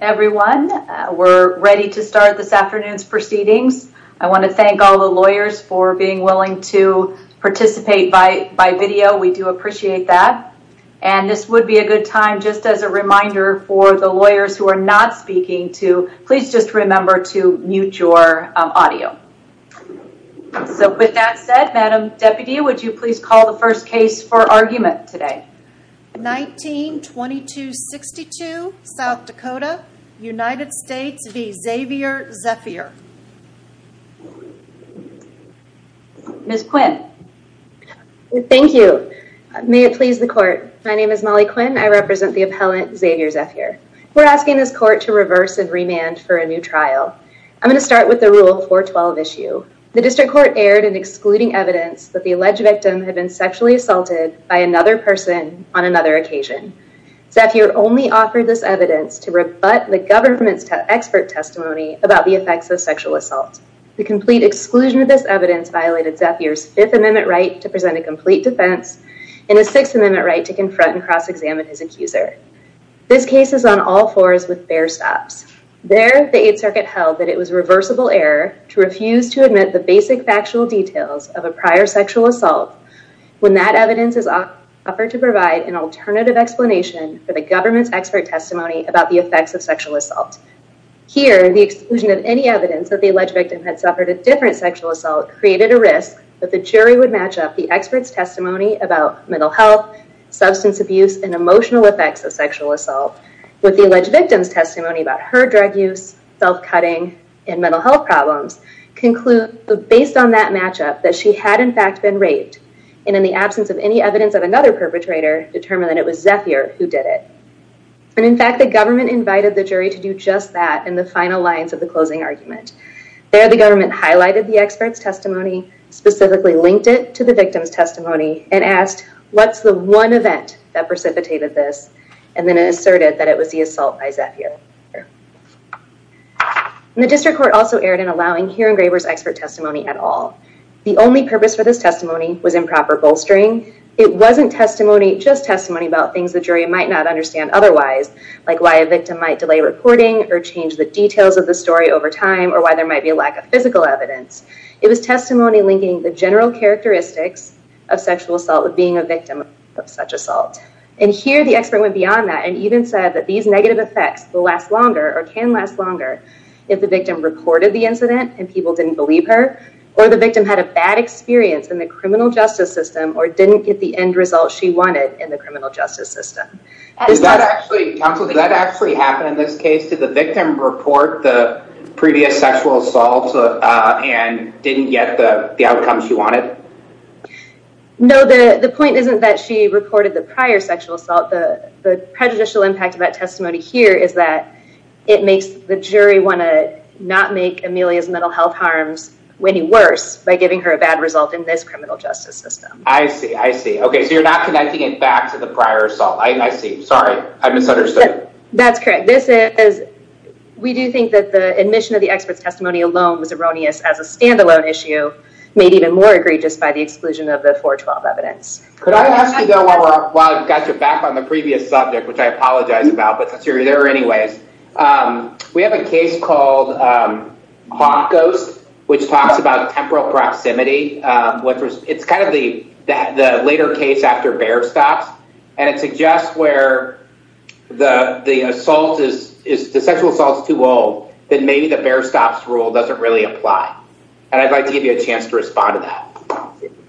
Everyone, we're ready to start this afternoon's proceedings. I want to thank all the lawyers for being willing to Participate by by video. We do appreciate that and this would be a good time Just as a reminder for the lawyers who are not speaking to please just remember to mute your audio So with that said madam deputy, would you please call the first case for argument today? 19 22 62 South Dakota United States v. Xavier Zephier Miss Quinn Thank you May it please the court. My name is Molly Quinn. I represent the appellant Xavier Zephier We're asking this court to reverse and remand for a new trial I'm going to start with the rule 412 issue the district court aired and excluding evidence that the alleged victim had been sexually assaulted by another person on another occasion Zephier only offered this evidence to rebut the government's expert testimony about the effects of sexual assault The complete exclusion of this evidence violated Zephier's Fifth Amendment right to present a complete defense in a Sixth Amendment right to confront and cross-examine his accuser This case is on all fours with bare stops There the Eighth Circuit held that it was reversible error to refuse to admit the basic factual details of a prior sexual assault When that evidence is offered to provide an alternative explanation for the government's expert testimony about the effects of sexual assault Here the exclusion of any evidence that the alleged victim had suffered a different sexual assault created a risk that the jury would match up the experts testimony about mental health Substance abuse and emotional effects of sexual assault with the alleged victims testimony about her drug use self-cutting and mental health problems Conclude based on that matchup that she had in fact been raped and in the absence of any evidence of another perpetrator Determine that it was Zephier who did it And in fact the government invited the jury to do just that in the final lines of the closing argument There the government highlighted the experts testimony specifically linked it to the victims testimony and asked what's the one event that precipitated this and Then asserted that it was the assault by Zephier And the district court also erred in allowing Hirengraver's expert testimony at all The only purpose for this testimony was improper bolstering It wasn't testimony just testimony about things the jury might not understand Otherwise like why a victim might delay reporting or change the details of the story over time or why there might be a lack of physical evidence It was testimony linking the general characteristics of sexual assault with being a victim of such assault And here the expert went beyond that and even said that these negative effects will last longer or can last longer If the victim reported the incident and people didn't believe her or the victim had a bad Experience in the criminal justice system or didn't get the end result. She wanted in the criminal justice system Counselor that actually happened in this case to the victim report the previous sexual assault And didn't get the outcomes you wanted No, the the point isn't that she reported the prior sexual assault the the prejudicial impact of that testimony here is that It makes the jury want to not make Amelia's mental health harms Any worse by giving her a bad result in this criminal justice system. I see I see Okay, so you're not connecting it back to the prior assault. I see. Sorry. I misunderstood. That's correct. This is We do think that the admission of the experts testimony alone was erroneous as a standalone issue Made even more egregious by the exclusion of the 412 evidence While I've got your back on the previous subject, which I apologize about but since you're there anyways We have a case called Bonkos which talks about temporal proximity what it's kind of the that the later case after bear stops and it suggests where The the assault is is the sexual assaults too old Then maybe the bear stops rule doesn't really apply and I'd like to give you a chance to respond to that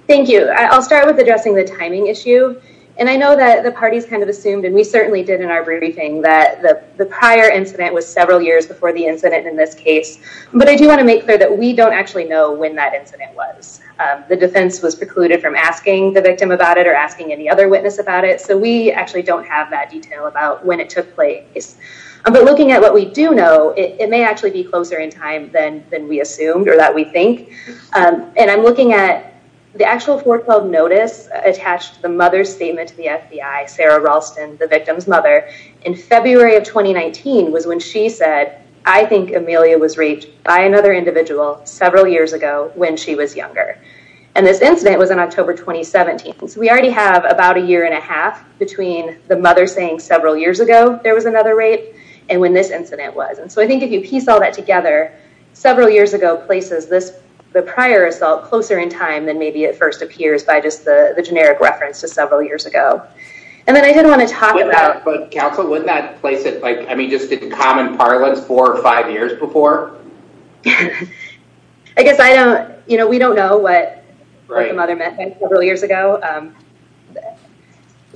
Thank you I'll start with addressing the timing issue and I know that the party's kind of assumed and we certainly did in our briefing that the Prior incident was several years before the incident in this case But I do want to make clear that we don't actually know when that incident was The defense was precluded from asking the victim about it or asking any other witness about it So we actually don't have that detail about when it took place But looking at what we do know it may actually be closer in time than than we assumed or that we think And I'm looking at the actual 412 notice attached the mother's statement to the FBI Sarah Ralston the victim's mother in February of 2019 was when she said I think Amelia was raped by another individual Several years ago when she was younger and this incident was in October 2017 So we already have about a year and a half between the mother saying several years ago There was another rape and when this incident was and so I think if you piece all that together several years ago places this the prior assault closer in time than maybe it first appears by just the the generic reference to several years Ago, and then I didn't want to talk about but counsel wouldn't that place it like I mean just a common parlance four or five years before I You know, we don't know what Several years ago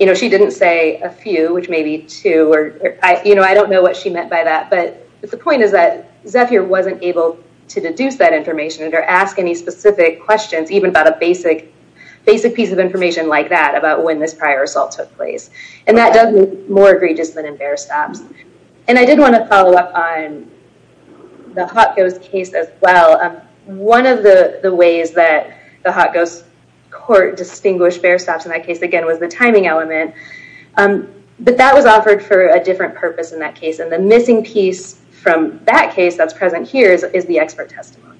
You know, she didn't say a few which may be two or I you know I don't know what she meant by that But the point is that Zephyr wasn't able to deduce that information or ask any specific questions even about a basic Basic piece of information like that about when this prior assault took place and that doesn't more egregious than in bear stops And I didn't want to follow up on The hot goes case as well One of the the ways that the hot goes court distinguished bear stops in that case again was the timing element But that was offered for a different purpose in that case and the missing piece from that case that's present Here's is the expert testimony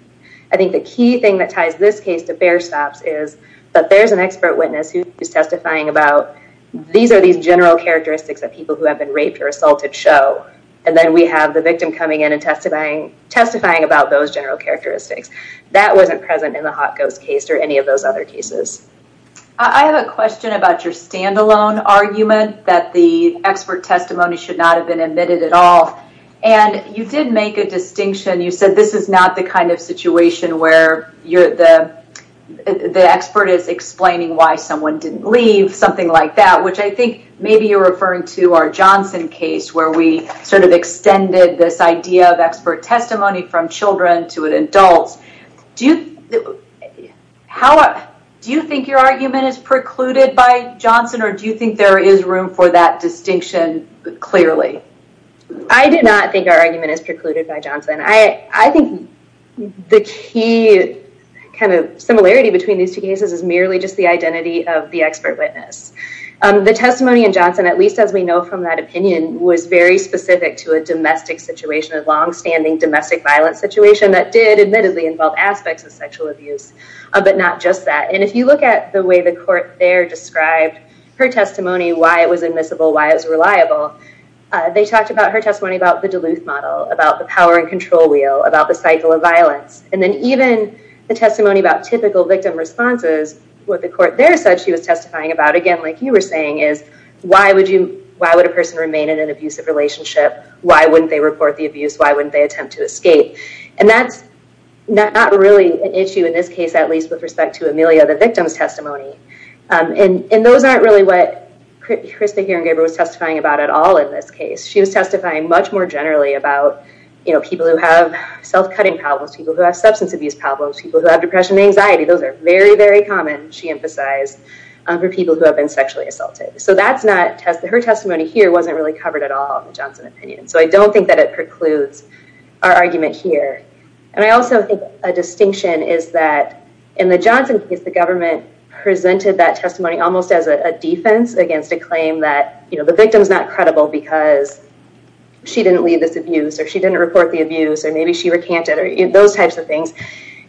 I think the key thing that ties this case to bear stops is that there's an expert witness who is testifying about These are these general characteristics that people who have been raped or assaulted show And then we have the victim coming in and testifying testifying about those general characteristics That wasn't present in the hot goes case or any of those other cases. I Have a question about your standalone argument that the expert testimony should not have been admitted at all and you did make a distinction you said this is not the kind of situation where you're the The expert is explaining why someone didn't leave something like that Which I think maybe you're referring to our Johnson case where we sort of extended this idea of expert testimony from children to an adult Do you? How do you think your argument is precluded by Johnson or do you think there is room for that distinction? Clearly, I did not think our argument is precluded by Johnson. I I think the key Kind of similarity between these two cases is merely just the identity of the expert witness The testimony in Johnson at least as we know from that opinion was very specific to a domestic Situation of long-standing domestic violence situation that did admittedly involve aspects of sexual abuse But not just that and if you look at the way the court there described her testimony why it was admissible why it's reliable They talked about her testimony about the Duluth model about the power and control wheel about the cycle of violence And then even the testimony about typical victim responses what the court there said She was testifying about again, like you were saying is why would you why would a person remain in an abusive relationship? Why wouldn't they report the abuse? Why wouldn't they attempt to escape and that's Not not really an issue in this case at least with respect to Amelia the victim's testimony And and those aren't really what? Chris the hearing-giver was testifying about at all in this case She was testifying much more generally about you know People who have self-cutting problems people who have substance abuse problems people who have depression anxiety Those are very very common. She emphasized For people who have been sexually assaulted, so that's not tested her testimony here wasn't really covered at all Johnson opinion so I don't think that it precludes our argument here, and I also think a distinction is that in the Johnson case the government presented that testimony almost as a defense against a claim that you know, the victims not credible because She didn't leave this abuse or she didn't report the abuse or maybe she recanted or those types of things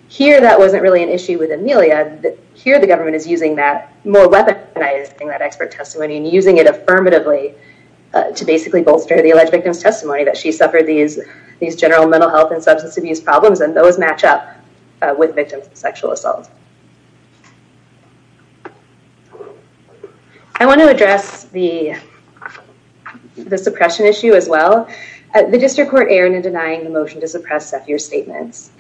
Here that wasn't really an issue with Amelia that here the government is using that more weaponizing that expert testimony and using it affirmatively To basically bolster the alleged victims testimony that she suffered these these general mental health and substance abuse problems and those match up with victims of sexual assault I want to address the The suppression issue as well the district court errant in denying the motion to suppress Zephyr's statements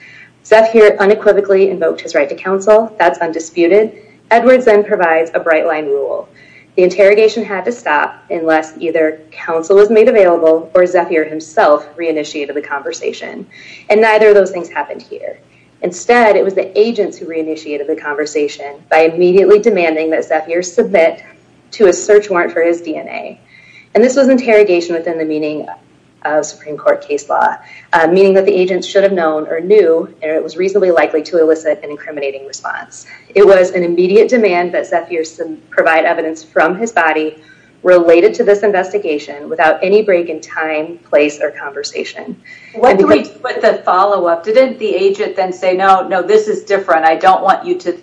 Zephyr unequivocally invoked his right to counsel that's undisputed Edwards then provides a bright-line rule the interrogation had to stop unless either Counsel was made available or Zephyr himself Re-initiated the conversation and neither of those things happened here instead It was the agents who re-initiated the conversation by immediately demanding that Zephyr submit to a search warrant for his DNA And this was interrogation within the meaning of And it was reasonably likely to elicit an incriminating response It was an immediate demand that Zephyr provide evidence from his body Related to this investigation without any break in time place or conversation What do we do with the follow-up didn't the agent then say no no this is different. I don't want you to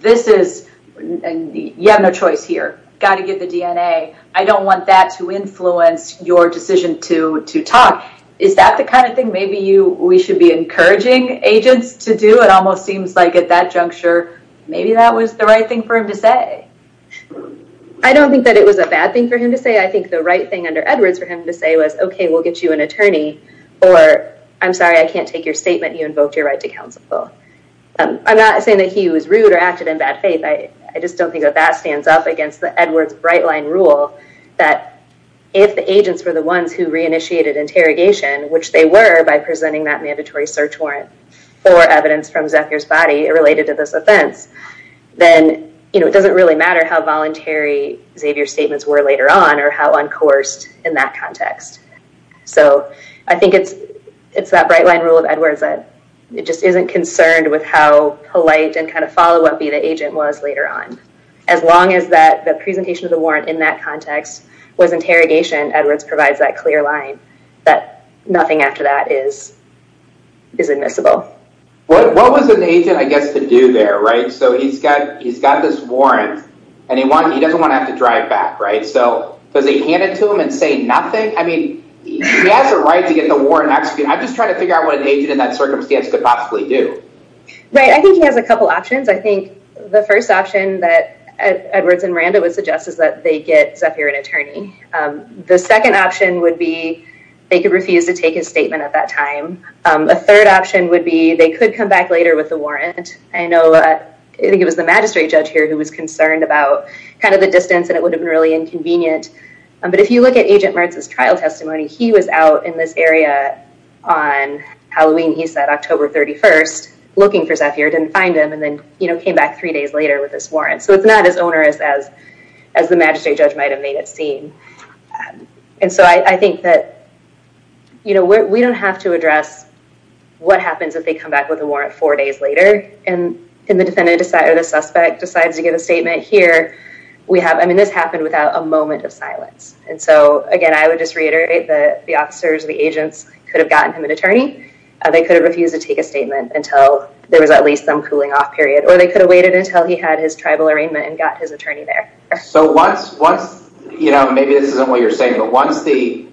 This is and you have no choice here got to give the DNA I don't want that to influence your decision to to talk is that the kind of thing maybe you we should be Encouraging agents to do it almost seems like at that juncture. Maybe that was the right thing for him to say I Don't think that it was a bad thing for him to say I think the right thing under Edwards for him to say was Okay, we'll get you an attorney or I'm sorry. I can't take your statement you invoked your right to counsel I'm not saying that he was rude or acted in bad faith I I just don't think that that stands up against the Edwards bright-line rule that if the agents were the ones who re-initiated Interrogation which they were by presenting that mandatory search warrant for evidence from Zephyr's body it related to this offense Then you know, it doesn't really matter how voluntary Xavier statements were later on or how uncoursed in that context so I think it's it's that bright-line rule of Edwards that it just isn't concerned with how Polite and kind of follow-up be the agent was later on as long as that the presentation of the warrant in that context Was interrogation Edwards provides that clear line that nothing after that is Is admissible? What what was an agent I guess to do there, right? So he's got he's got this warrant and he wants he doesn't want to have to drive back, right? So does he hand it to him and say nothing? I mean He has a right to get the war and actually I'm just trying to figure out what an agent in that circumstance could possibly do Right. I think he has a couple options The first option that Edwards and Miranda would suggest is that they get Zephyr an attorney The second option would be they could refuse to take a statement at that time A third option would be they could come back later with the warrant I know I think it was the magistrate judge here who was concerned about kind of the distance and it would have been really inconvenient But if you look at agent Mertz's trial testimony, he was out in this area on He was looking for Zephyr didn't find him and then, you know came back three days later with this warrant So it's not as onerous as as the magistrate judge might have made it seem and so I think that You know where we don't have to address What happens if they come back with a warrant four days later and in the defendant decided a suspect decides to get a statement here We have I mean this happened without a moment of silence And so again, I would just reiterate that the officers the agents could have gotten him an attorney They could have refused to take a statement until there was at least some cooling off period or they could have waited until he had His tribal arraignment and got his attorney there. So once once, you know, maybe this isn't what you're saying But once the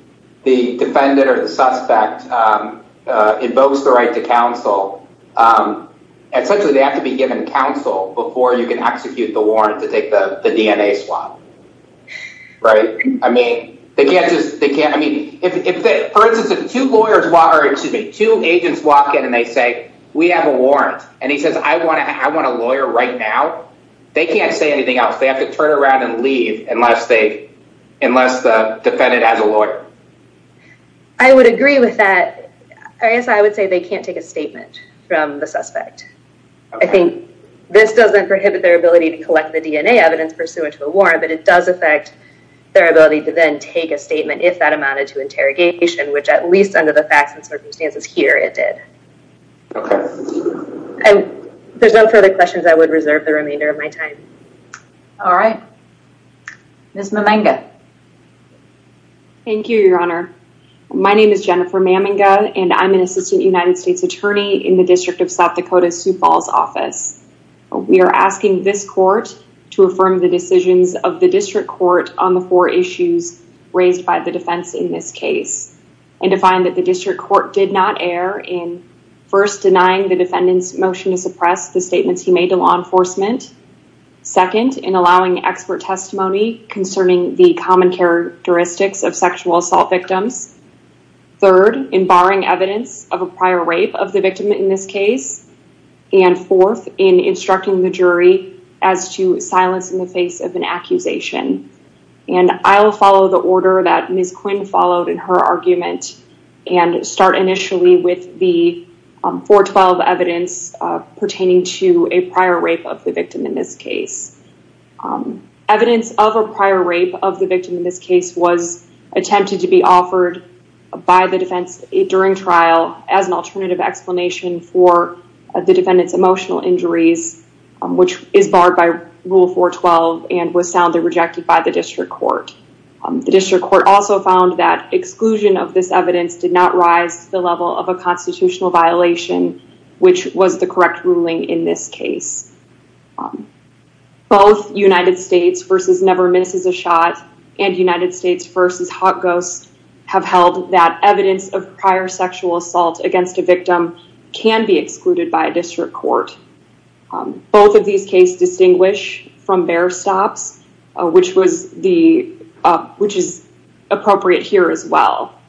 the defendant or the suspect invokes the right to counsel Essentially, they have to be given counsel before you can execute the warrant to take the DNA swap Right, I mean they can't just they can't I mean if they for instance of two lawyers water It should be two agents walk in and they say we have a warrant and he says I want to have one a lawyer Right now they can't say anything else. They have to turn around and leave unless they unless the defendant has a lawyer. I Would agree with that. I guess I would say they can't take a statement from the suspect I think this doesn't prohibit their ability to collect the DNA evidence pursuant to a warrant But it does affect their ability to then take a statement if that amounted to interrogation Which at least under the facts and circumstances here it did And there's no further questions I would reserve the remainder of my time. All right, Miss Maminga Thank you, your honor My name is Jennifer Maminga, and I'm an assistant United States attorney in the District of South Dakota Sioux Falls office We are asking this court to affirm the decisions of the district court on the four issues Raised by the defense in this case and to find that the district court did not air in First denying the defendant's motion to suppress the statements. He made to law enforcement Second in allowing expert testimony concerning the common characteristics of sexual assault victims third in barring evidence of a prior rape of the victim in this case and fourth in instructing the jury as to silence in the face of an accusation and I'll follow the order that Miss Quinn followed in her argument and start initially with the 412 evidence Pertaining to a prior rape of the victim in this case Evidence of a prior rape of the victim in this case was Attempted to be offered by the defense during trial as an alternative explanation for the defendant's emotion Injuries, which is barred by rule 412 and was soundly rejected by the district court The district court also found that exclusion of this evidence did not rise to the level of a constitutional violation Which was the correct ruling in this case? Both United States versus never misses a shot and United States versus hot ghosts Have held that evidence of prior sexual assault against a victim can be excluded by a district court both of these case distinguish from bear stops, which was the Which is appropriate here as well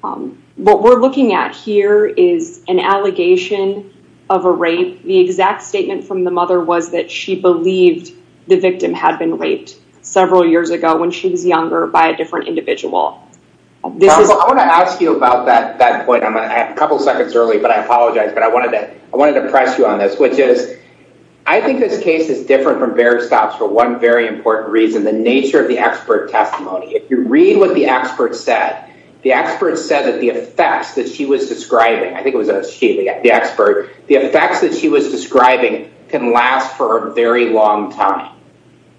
What we're looking at here is an allegation of a rape The exact statement from the mother was that she believed the victim had been raped Several years ago when she was younger by a different individual This is I want to ask you about that that point I'm gonna have a couple seconds early, but I apologize But I wanted to I wanted to press you on this which is I Think this case is different from bear stops for one very important reason the nature of the expert testimony If you read what the expert said the expert said that the effects that she was describing I think it was a sheet the expert the effects that she was describing can last for a very long time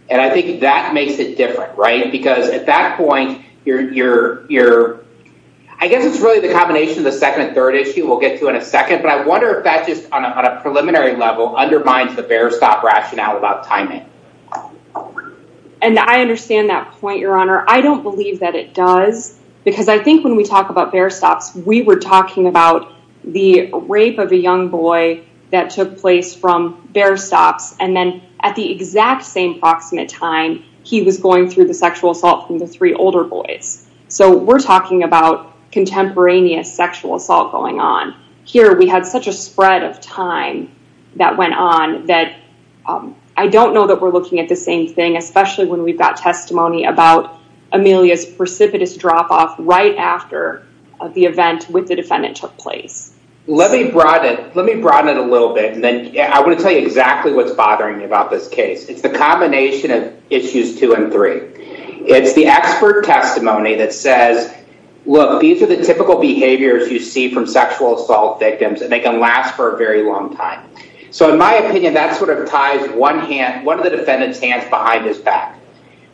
And I think that makes it different right because at that point you're you're you're I Guess it's really the combination of the second and third issue We'll get to in a second, but I wonder if that just on a preliminary level undermines the bear stop rationale about timing And I understand that point your honor I don't believe that it does because I think when we talk about bear stops We were talking about the rape of a young boy that took place from bear stops And then at the exact same proximate time he was going through the sexual assault from the three older boys. So we're talking about Contemporaneous sexual assault going on here. We had such a spread of time that went on that I don't know that we're looking at the same thing, especially when we've got testimony about Amelia's precipitous drop-off right after of the event with the defendant took place Let me brought it. Let me broaden it a little bit and then I would tell you exactly what's bothering me about this case It's the combination of issues two and three. It's the expert testimony that says Look these are the typical behaviors you see from sexual assault victims and they can last for a very long time So in my opinion that sort of ties one hand one of the defendants hands behind his back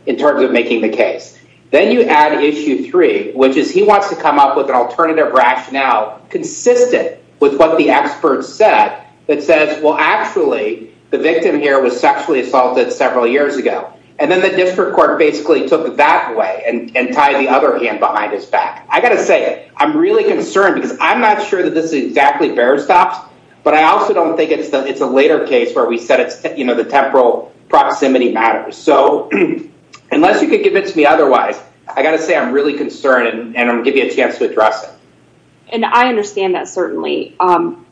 in terms of making the case Then you add issue three, which is he wants to come up with an alternative rationale Consistent with what the experts said that says well actually The victim here was sexually assaulted several years ago And then the district court basically took that way and tied the other hand behind his back. I got to say it I'm really concerned because I'm not sure that this is exactly bear stops But I also don't think it's that it's a later case where we said it's you know, the temporal proximity matters. So Unless you could give it to me Otherwise, I got to say I'm really concerned and I'm give you a chance to address it and I understand that certainly Um,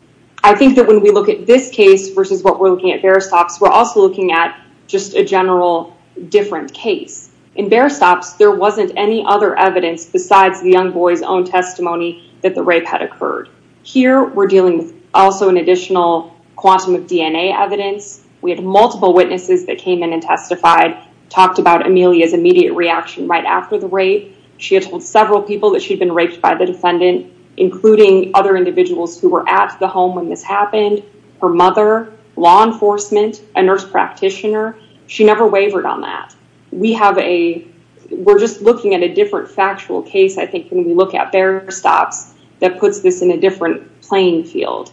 I think that when we look at this case versus what we're looking at bear stops We're also looking at just a general different case in bear stops There wasn't any other evidence besides the young boy's own testimony that the rape had occurred here We're dealing with also an additional quantum of DNA evidence We had multiple witnesses that came in and testified talked about Amelia's immediate reaction right after the rape She had told several people that she'd been raped by the defendant Including other individuals who were at the home when this happened her mother law enforcement a nurse practitioner she never wavered on that we have a We're just looking at a different factual case I think when we look at bear stops that puts this in a different playing field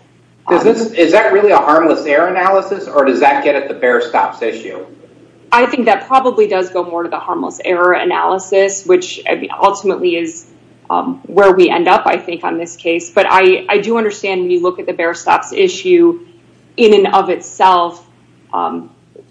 Is this is that really a harmless error analysis or does that get at the bear stops issue? I think that probably does go more to the harmless error analysis, which ultimately is Where we end up I think on this case, but I I do understand when you look at the bear stops issue in and of itself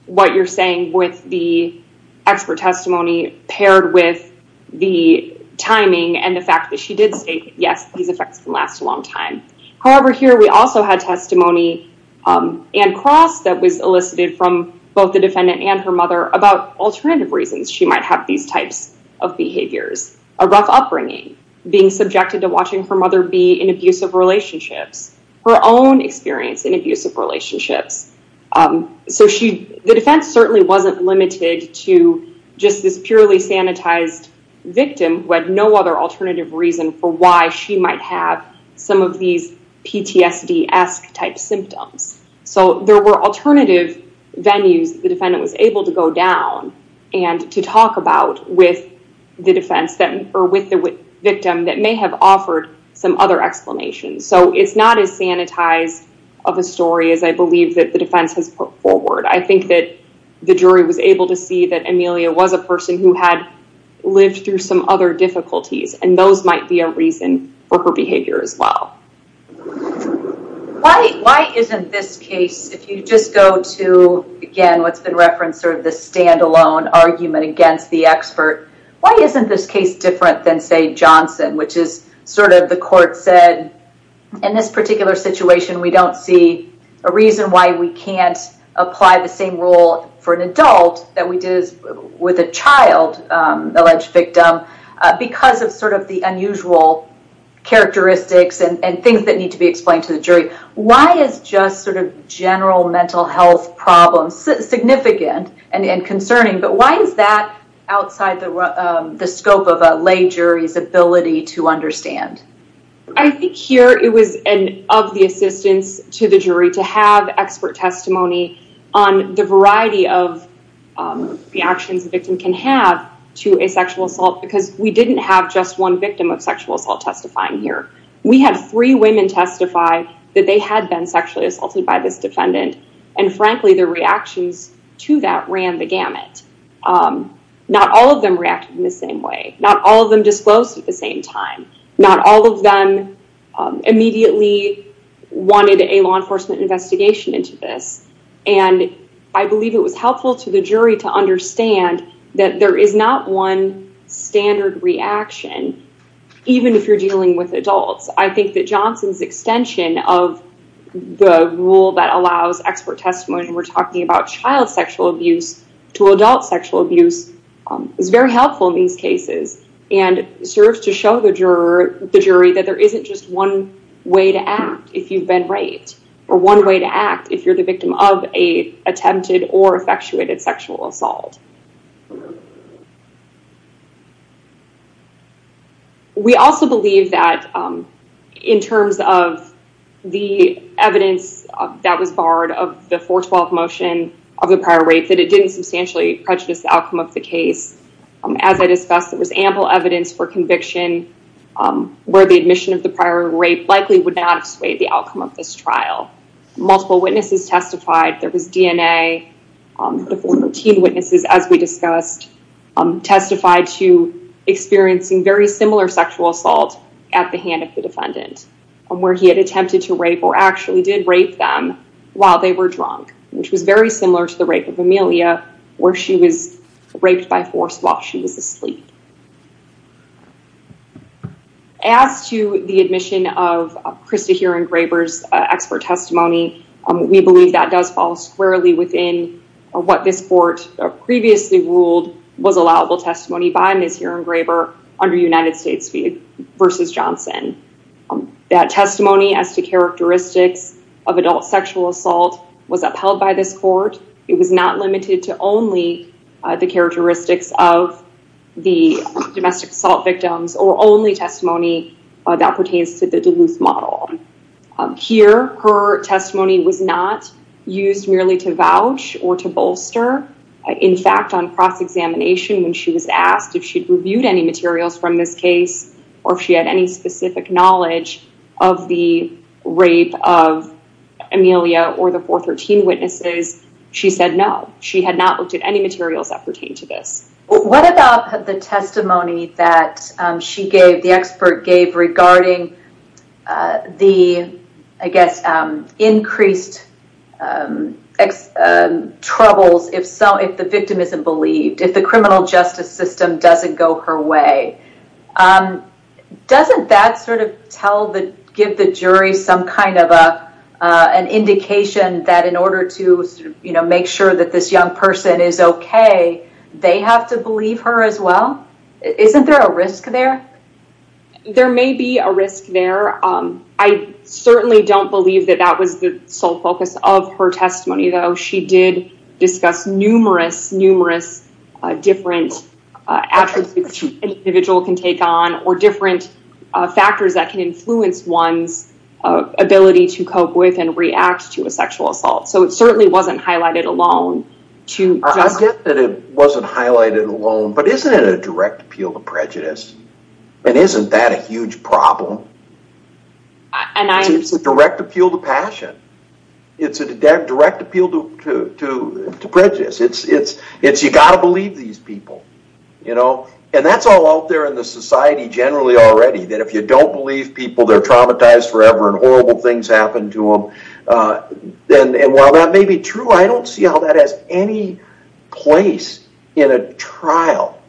what you're saying with the expert testimony paired with the Timing and the fact that she did say yes, these effects can last a long time. However here we also had testimony And cross that was elicited from both the defendant and her mother about alternative reasons She might have these types of behaviors a rough upbringing being subjected to watching her mother be in abusive relationships her own experience in abusive relationships So she the defense certainly wasn't limited to just this purely sanitized Victim who had no other alternative reason for why she might have some of these PTSD esque type symptoms, so there were alternative Venues the defendant was able to go down and to talk about with the defense them or with the Victim that may have offered some other explanations So it's not as sanitized of a story as I believe that the defense has put forward I think that the jury was able to see that Amelia was a person who had Lived through some other difficulties and those might be a reason for her behavior as well Why why isn't this case if you just go to Again, what's been referenced or the standalone argument against the expert? Why isn't this case different than say Johnson, which is sort of the court said in this particular situation? We don't see a reason why we can't apply the same rule for an adult that we did with a child alleged victim Because of sort of the unusual Characteristics and things that need to be explained to the jury Why is just sort of general mental health problems significant and in concerning? But why is that outside the scope of a lay jury's ability to understand? I think here it was an of the assistance to the jury to have expert testimony on the variety of The actions the victim can have to a sexual assault because we didn't have just one victim of sexual assault testifying here We had three women testify that they had been sexually assaulted by this defendant and frankly their reactions to that ran the gamut Not all of them reacted in the same way. Not all of them disclosed at the same time. Not all of them immediately wanted a law enforcement investigation into this and I believe it was helpful to the jury to understand that there is not one standard reaction Even if you're dealing with adults, I think that Johnson's extension of The rule that allows expert testimony and we're talking about child sexual abuse to adult sexual abuse is very helpful in these cases and serves to show the juror the jury that there isn't just one way to act if you've been raped or one way to act if You're the victim of a attempted or effectuated sexual assault We also believe that in terms of the Evidence that was barred of the 412 motion of the prior rate that it didn't substantially prejudice the outcome of the case As I discussed it was ample evidence for conviction Where the admission of the prior rate likely would not sway the outcome of this trial Multiple witnesses testified there was DNA teen witnesses as we discussed testified to Experiencing very similar sexual assault at the hand of the defendant And where he had attempted to rape or actually did rape them while they were drunk Which was very similar to the rape of Amelia where she was raped by force while she was asleep As to the admission of Krista here engravers expert testimony We believe that does fall squarely within or what this court Previously ruled was allowable testimony by miss here engraver under United States speed versus Johnson that testimony as to characteristics of adult sexual assault was upheld by this court it was not limited to only the characteristics of The domestic assault victims or only testimony that pertains to the Duluth model Here her testimony was not used merely to vouch or to bolster in fact on cross-examination when she was asked if she'd reviewed any materials from this case or if she had any specific knowledge of the rape of Amelia or the 413 witnesses she said no she had not looked at any materials that pertain to this What about the testimony that she gave the expert gave regarding? the I guess increased Troubles if so if the victim isn't believed if the criminal justice system doesn't go her way Doesn't that sort of tell the give the jury some kind of a An indication that in order to you know, make sure that this young person is okay They have to believe her as well Isn't there a risk there? There may be a risk there. I Certainly don't believe that that was the sole focus of her testimony though. She did discuss numerous numerous different attributes Individual can take on or different factors that can influence one's Ability to cope with and react to a sexual assault. So it certainly wasn't highlighted alone to Get that it wasn't highlighted alone, but isn't it a direct appeal to prejudice and isn't that a huge problem? And I use the direct appeal to passion It's a direct appeal to to to prejudice. It's it's it's you gotta believe these people You know and that's all out there in the society generally already that if you don't believe people they're traumatized forever and horrible things happen to them Then and while that may be true. I don't see how that has any place in a trial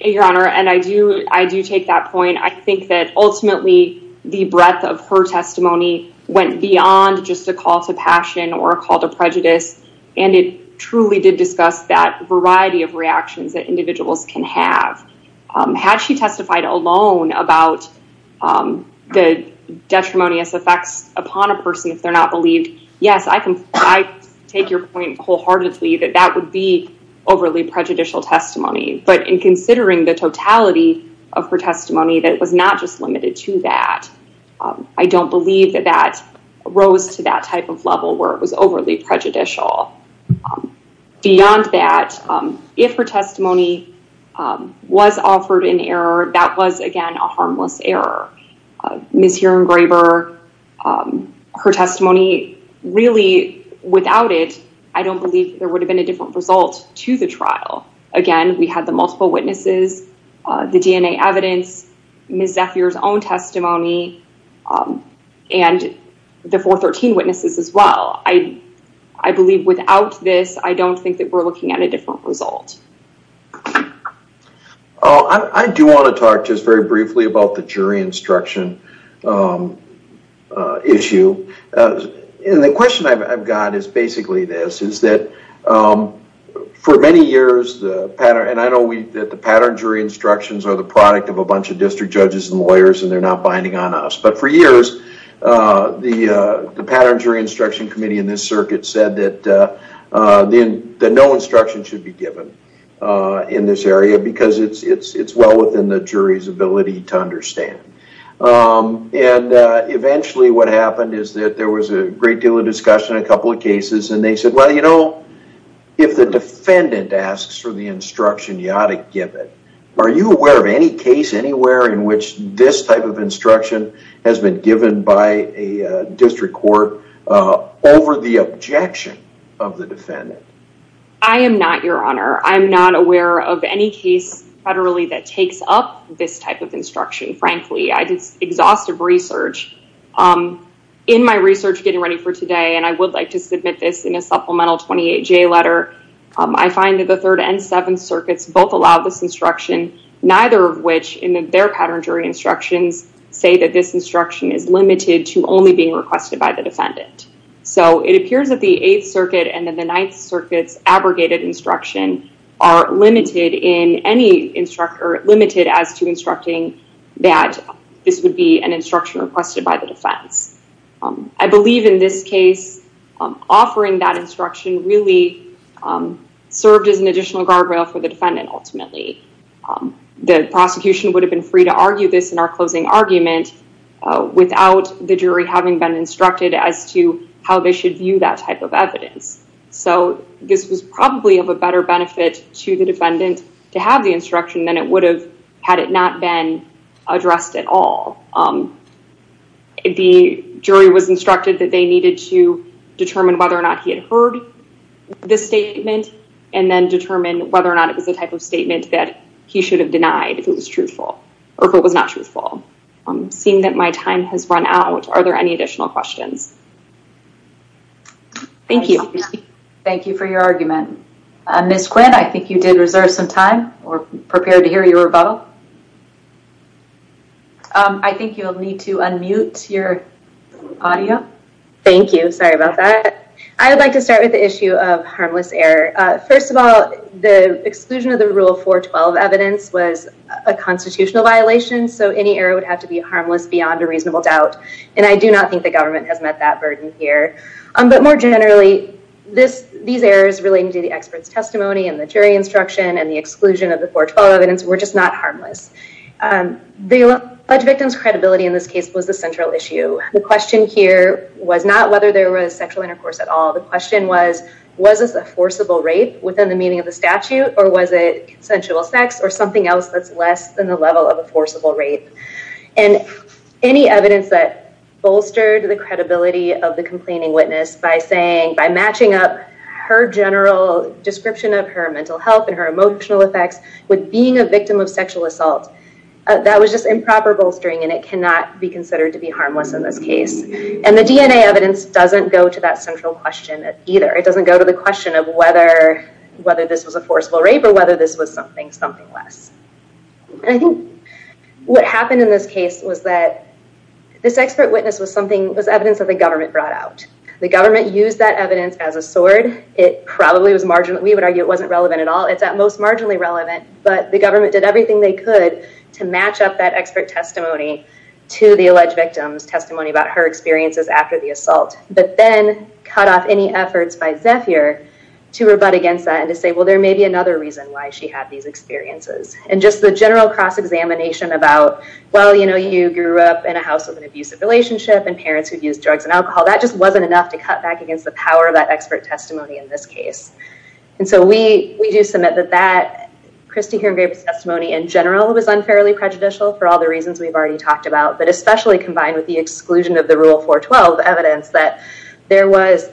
Your honor and I do I do take that point I think that ultimately the breadth of her testimony went beyond just a call to passion or a call to prejudice and it Truly did discuss that variety of reactions that individuals can have had she testified alone about The Detrimonious effects upon a person if they're not believed. Yes, I can I take your point wholeheartedly that that would be Overly prejudicial testimony, but in considering the totality of her testimony that was not just limited to that I don't believe that that rose to that type of level where it was overly prejudicial Beyond that if her testimony Was offered in error that was again a harmless error Miss hearing graver Her testimony really without it. I don't believe there would have been a different result to the trial again We had the multiple witnesses the DNA evidence Miss Zephyr's own testimony and The 413 witnesses as well. I I believe without this. I don't think that we're looking at a different result I do want to talk just very briefly about the jury instruction Issue in the question I've got is basically this is that for many years the pattern and I know we that the pattern jury Instructions are the product of a bunch of district judges and lawyers and they're not binding on us. But for years the the pattern jury instruction committee in this circuit said that Then that no instruction should be given in this area because it's it's it's well within the jury's ability to understand and Eventually what happened is that there was a great deal of discussion a couple of cases and they said well, you know If the defendant asks for the instruction you ought to give it Are you aware of any case anywhere in which this type of instruction has been given by a district court? Over the objection of the defendant. I am NOT your honor I'm not aware of any case federally that takes up this type of instruction. Frankly, I did exhaustive research In my research getting ready for today, and I would like to submit this in a supplemental 28 J letter I find that the third and seventh circuits both allow this instruction Neither of which in their pattern jury instructions say that this instruction is limited to only being requested by the defendant so it appears that the 8th circuit and then the 9th circuits abrogated instruction are Limited in any instructor limited as to instructing that this would be an instruction requested by the defense I believe in this case offering that instruction really Served as an additional guardrail for the defendant ultimately The prosecution would have been free to argue this in our closing argument Without the jury having been instructed as to how they should view that type of evidence So this was probably of a better benefit to the defendant to have the instruction than it would have had it not been addressed at all The jury was instructed that they needed to determine whether or not he had heard This statement and then determine whether or not it was a type of statement that he should have denied if it was truthful Or if it was not truthful. I'm seeing that my time has run out. Are there any additional questions? Thank you, thank you for your argument miss Quinn, I think you did reserve some time or prepared to hear your rebuttal I Think you'll need to unmute your Audio thank you. Sorry about that. I would like to start with the issue of harmless error First of all, the exclusion of the rule 412 evidence was a constitutional violation So any error would have to be harmless beyond a reasonable doubt and I do not think the government has met that burden here Um, but more generally this these errors relating to the experts testimony and the jury instruction and the exclusion of the 412 evidence We're just not harmless The alleged victim's credibility in this case was the central issue The question here was not whether there was sexual intercourse at all The question was was this a forcible rape within the meaning of the statute or was it? consensual sex or something else that's less than the level of a forcible rape and any evidence that Bolstered the credibility of the complaining witness by saying by matching up her general Description of her mental health and her emotional effects with being a victim of sexual assault That was just improper bolstering and it cannot be considered to be harmless in this case And the DNA evidence doesn't go to that central question either. It doesn't go to the question of whether Whether this was a forcible rape or whether this was something something less and I think What happened in this case was that? This expert witness was something was evidence that the government brought out the government used that evidence as a sword It probably was marginal. We would argue it wasn't relevant at all It's at most marginally relevant, but the government did everything they could to match up that expert testimony To the alleged victims testimony about her experiences after the assault but then cut off any efforts by Zephyr To rebut against that and to say well there may be another reason why she had these experiences and just the general cross-examination About well, you know you grew up in a house with an abusive relationship and parents who use drugs and alcohol That just wasn't enough to cut back against the power of that expert testimony in this case And so we we do submit that that Christy Hearn-Graves testimony in general was unfairly prejudicial for all the reasons we've already talked about but especially Combined with the exclusion of the rule 412 evidence that there was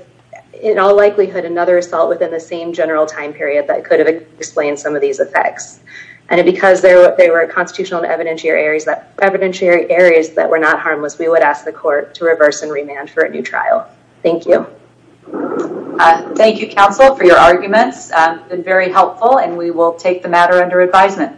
In all likelihood another assault within the same general time period that could have explained some of these effects And it because there they were constitutional and evidentiary areas that evidentiary areas that were not harmless We would ask the court to reverse and remand for a new trial. Thank you Thank you counsel for your arguments been very helpful, and we will take the matter under advisement